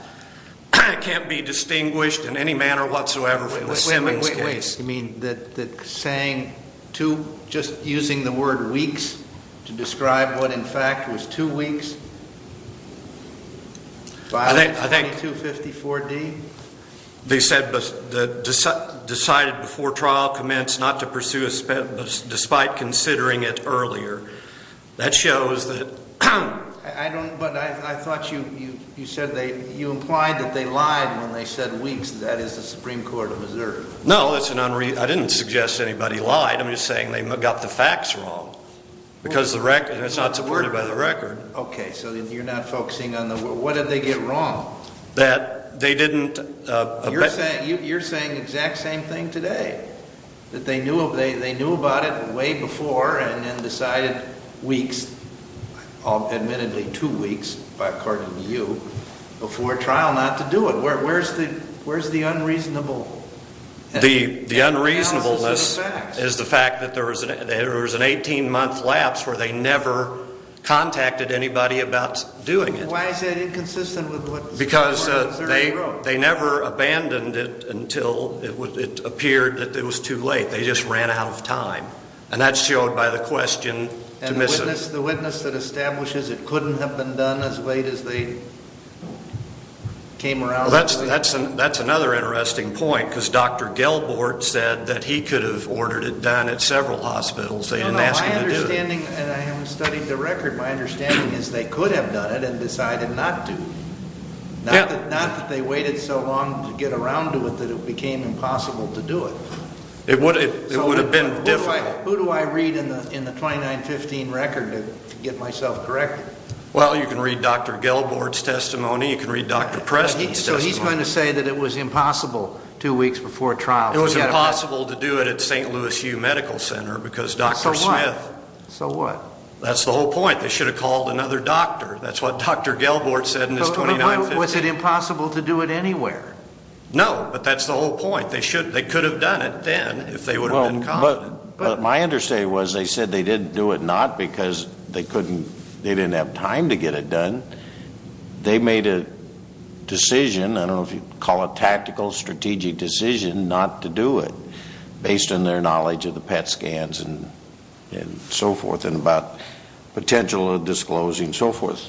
It can't be distinguished in any manner whatsoever from the Simmons case. Wait, wait, wait, wait. You mean that saying two, just using the word weeks to describe what in fact was two weeks? I think they said decided before trial commenced not to pursue a PET, despite considering it earlier. That shows that. But I thought you said you implied that they lied when they said weeks. That is the Supreme Court of Missouri. No, I didn't suggest anybody lied. I'm just saying they got the facts wrong, because it's not supported by the record. Okay, so you're not focusing on the word. What did they get wrong? That they didn't. You're saying the exact same thing today, that they knew about it way before and then decided weeks, admittedly two weeks, according to you, before trial not to do it. Where's the unreasonable? The unreasonableness is the fact that there was an 18-month lapse where they never contacted anybody about doing it. Why is that inconsistent with what the Supreme Court of Missouri wrote? They never abandoned it until it appeared that it was too late. They just ran out of time. And that's showed by the question to miss it. And the witness that establishes it couldn't have been done as late as they came around? That's another interesting point, because Dr. Gelbort said that he could have ordered it done at several hospitals. They didn't ask him to do it. No, no, my understanding, and I haven't studied the record, my understanding is they could have done it and decided not to. Not that they waited so long to get around to it that it became impossible to do it. It would have been difficult. Who do I read in the 2915 record to get myself corrected? Well, you can read Dr. Gelbort's testimony. You can read Dr. Preston's testimony. So he's going to say that it was impossible two weeks before trial. It was impossible to do it at St. Louis U Medical Center because Dr. Smith. So what? That's the whole point. They should have called another doctor. That's what Dr. Gelbort said in his 2915. But was it impossible to do it anywhere? No, but that's the whole point. They could have done it then if they would have been confident. But my understanding was they said they didn't do it not because they didn't have time to get it done. They made a decision. I don't know if you'd call it a tactical, strategic decision not to do it based on their knowledge of the PET scans and so forth and about potential of disclosing and so forth.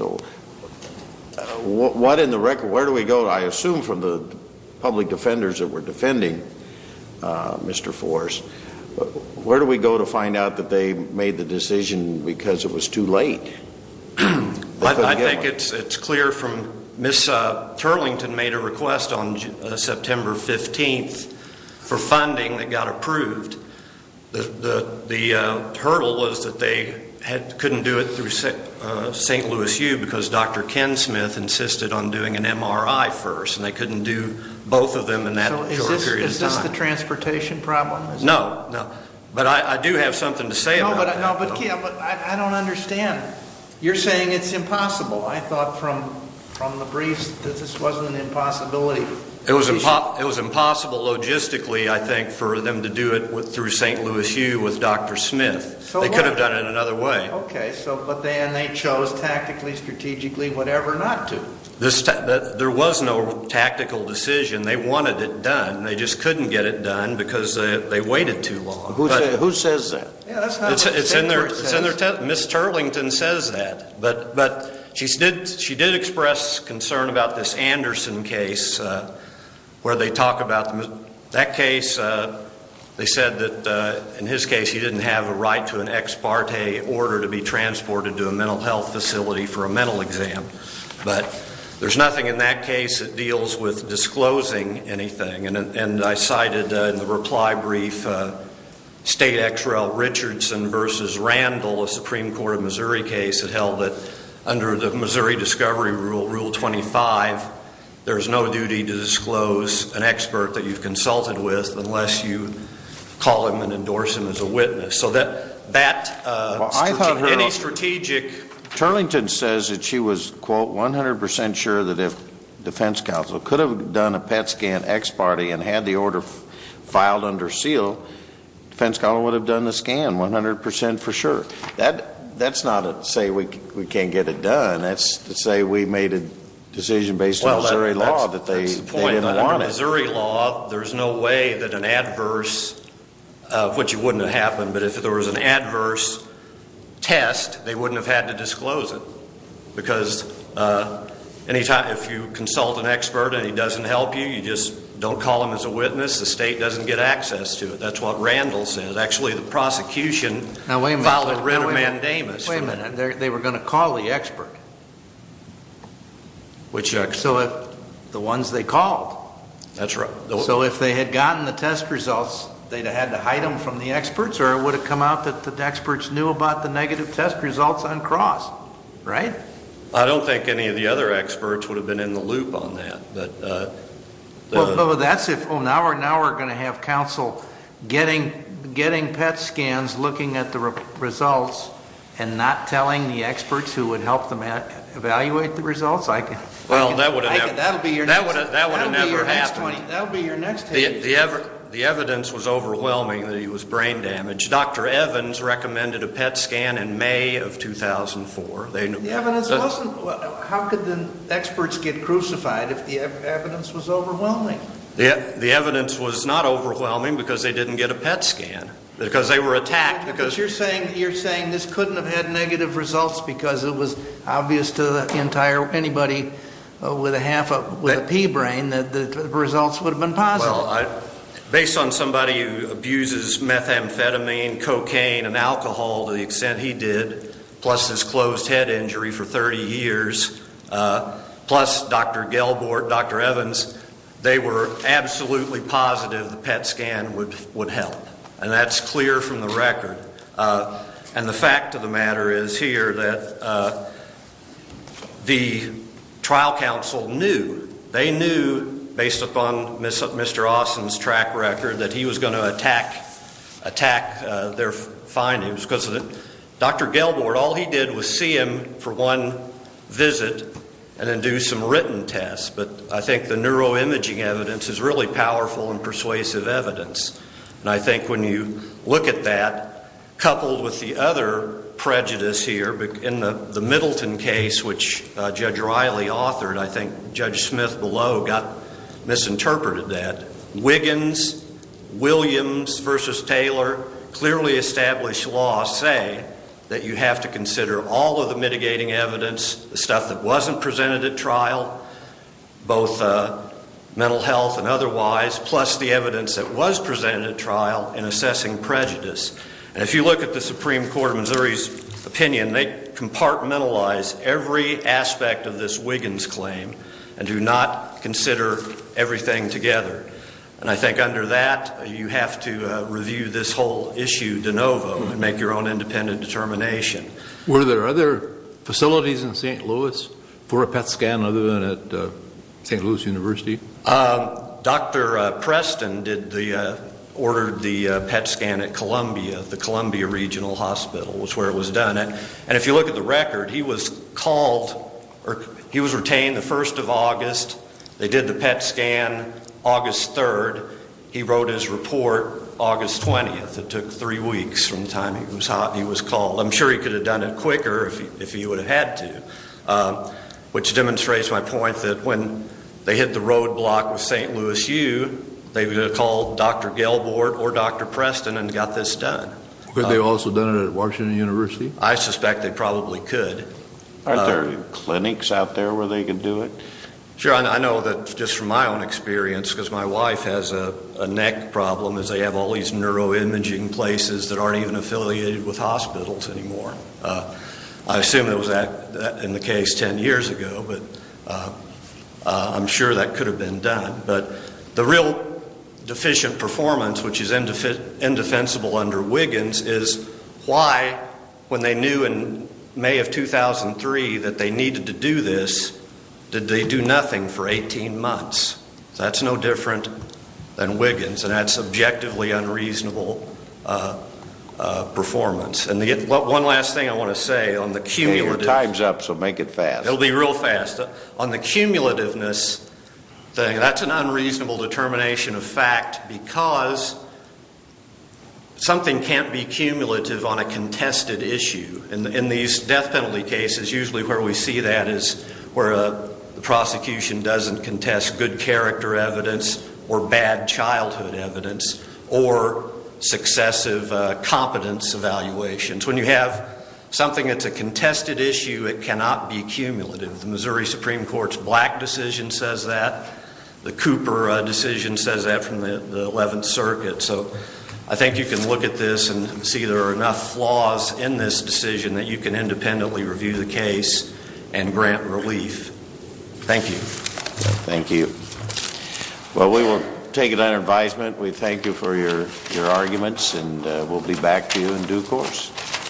What in the record? Where do we go? I assume from the public defenders that were defending Mr. Forrest. Where do we go to find out that they made the decision because it was too late? I think it's clear from Ms. Turlington made a request on September 15th for funding that got approved. The hurdle was that they couldn't do it through St. Louis U because Dr. Ken Smith insisted on doing an MRI first, and they couldn't do both of them in that short period of time. Is this the transportation problem? No, but I do have something to say about it. I don't understand. You're saying it's impossible. I thought from the briefs that this wasn't an impossibility. It was impossible logistically, I think, for them to do it through St. Louis U with Dr. Smith. They could have done it another way. Okay, but then they chose tactically, strategically, whatever not to. There was no tactical decision. They wanted it done. They just couldn't get it done because they waited too long. Who says that? It's in their text. Ms. Turlington says that. But she did express concern about this Anderson case where they talk about that case. They said that in his case he didn't have a right to an ex parte order to be transported to a mental health facility for a mental exam. But there's nothing in that case that deals with disclosing anything. And I cited in the reply brief State Ex Rel. Richardson v. Randall, a Supreme Court of Missouri case, that held that under the Missouri Discovery Rule, Rule 25, there's no duty to disclose an expert that you've consulted with unless you call him and endorse him as a witness. So that, any strategic. Ms. Turlington says that she was, quote, 100% sure that if defense counsel could have done a PET scan ex parte and had the order filed under seal, defense counsel would have done the scan 100% for sure. That's not to say we can't get it done. That's to say we made a decision based on Missouri law that they didn't want it. Well, that's the point. Under Missouri law, there's no way that an adverse, which it wouldn't have happened, but if there was an adverse test, they wouldn't have had to disclose it. Because any time, if you consult an expert and he doesn't help you, you just don't call him as a witness, the state doesn't get access to it. That's what Randall says. Actually, the prosecution filed a writ of mandamus. Wait a minute. They were going to call the expert. Which expert? The ones they called. That's right. So if they had gotten the test results, they'd have had to hide them from the experts or it would have come out that the experts knew about the negative test results on Cross, right? I don't think any of the other experts would have been in the loop on that. But that's if, oh, now we're going to have counsel getting PET scans, looking at the results, and not telling the experts who would help them evaluate the results? That would have never happened. The evidence was overwhelming that he was brain damaged. Dr. Evans recommended a PET scan in May of 2004. The evidence wasn't. How could the experts get crucified if the evidence was overwhelming? The evidence was not overwhelming because they didn't get a PET scan, because they were attacked. But you're saying this couldn't have had negative results because it was obvious to anybody with a pea brain that the results would have been positive. Well, based on somebody who abuses methamphetamine, cocaine, and alcohol to the extent he did, plus his closed head injury for 30 years, plus Dr. Gelbort, Dr. Evans, they were absolutely positive the PET scan would help. And that's clear from the record. And the fact of the matter is here that the trial counsel knew. They knew based upon Mr. Austin's track record that he was going to attack their findings because Dr. Gelbort, all he did was see him for one visit and then do some written tests. But I think the neuroimaging evidence is really powerful and persuasive evidence. And I think when you look at that, coupled with the other prejudice here, in the Middleton case, which Judge Riley authored, I think Judge Smith below misinterpreted that. Wiggins, Williams v. Taylor, clearly established laws say that you have to consider all of the mitigating evidence, the stuff that wasn't presented at trial, both mental health and otherwise, plus the evidence that was presented at trial in assessing prejudice. And if you look at the Supreme Court of Missouri's opinion, they compartmentalize every aspect of this Wiggins claim and do not consider everything together. And I think under that, you have to review this whole issue de novo and make your own independent determination. Were there other facilities in St. Louis for a PET scan other than at St. Louis University? Dr. Preston ordered the PET scan at Columbia, the Columbia Regional Hospital was where it was done. And if you look at the record, he was retained the 1st of August. They did the PET scan August 3rd. He wrote his report August 20th. It took three weeks from the time he was called. I'm sure he could have done it quicker if he would have had to, which demonstrates my point that when they hit the roadblock with St. Louis U, they would have called Dr. Gelbort or Dr. Preston and got this done. Could they have also done it at Washington University? I suspect they probably could. Aren't there clinics out there where they could do it? Sure. I know that just from my own experience, because my wife has a neck problem, is they have all these neuroimaging places that aren't even affiliated with hospitals anymore. I assume that was in the case 10 years ago, but I'm sure that could have been done. But the real deficient performance, which is indefensible under Wiggins, is why, when they knew in May of 2003 that they needed to do this, did they do nothing for 18 months? That's no different than Wiggins, and that's subjectively unreasonable performance. One last thing I want to say on the cumulative. Your time's up, so make it fast. It'll be real fast. On the cumulativeness thing, that's an unreasonable determination of fact, because something can't be cumulative on a contested issue. In these death penalty cases, usually where we see that is where the prosecution doesn't contest good character evidence or bad childhood evidence or successive competence evaluations. When you have something that's a contested issue, it cannot be cumulative. The Missouri Supreme Court's Black decision says that. The Cooper decision says that from the 11th Circuit. So I think you can look at this and see there are enough flaws in this decision that you can independently review the case and grant relief. Thank you. Thank you. Well, we will take it under advisement. We thank you for your arguments, and we'll be back to you in due course.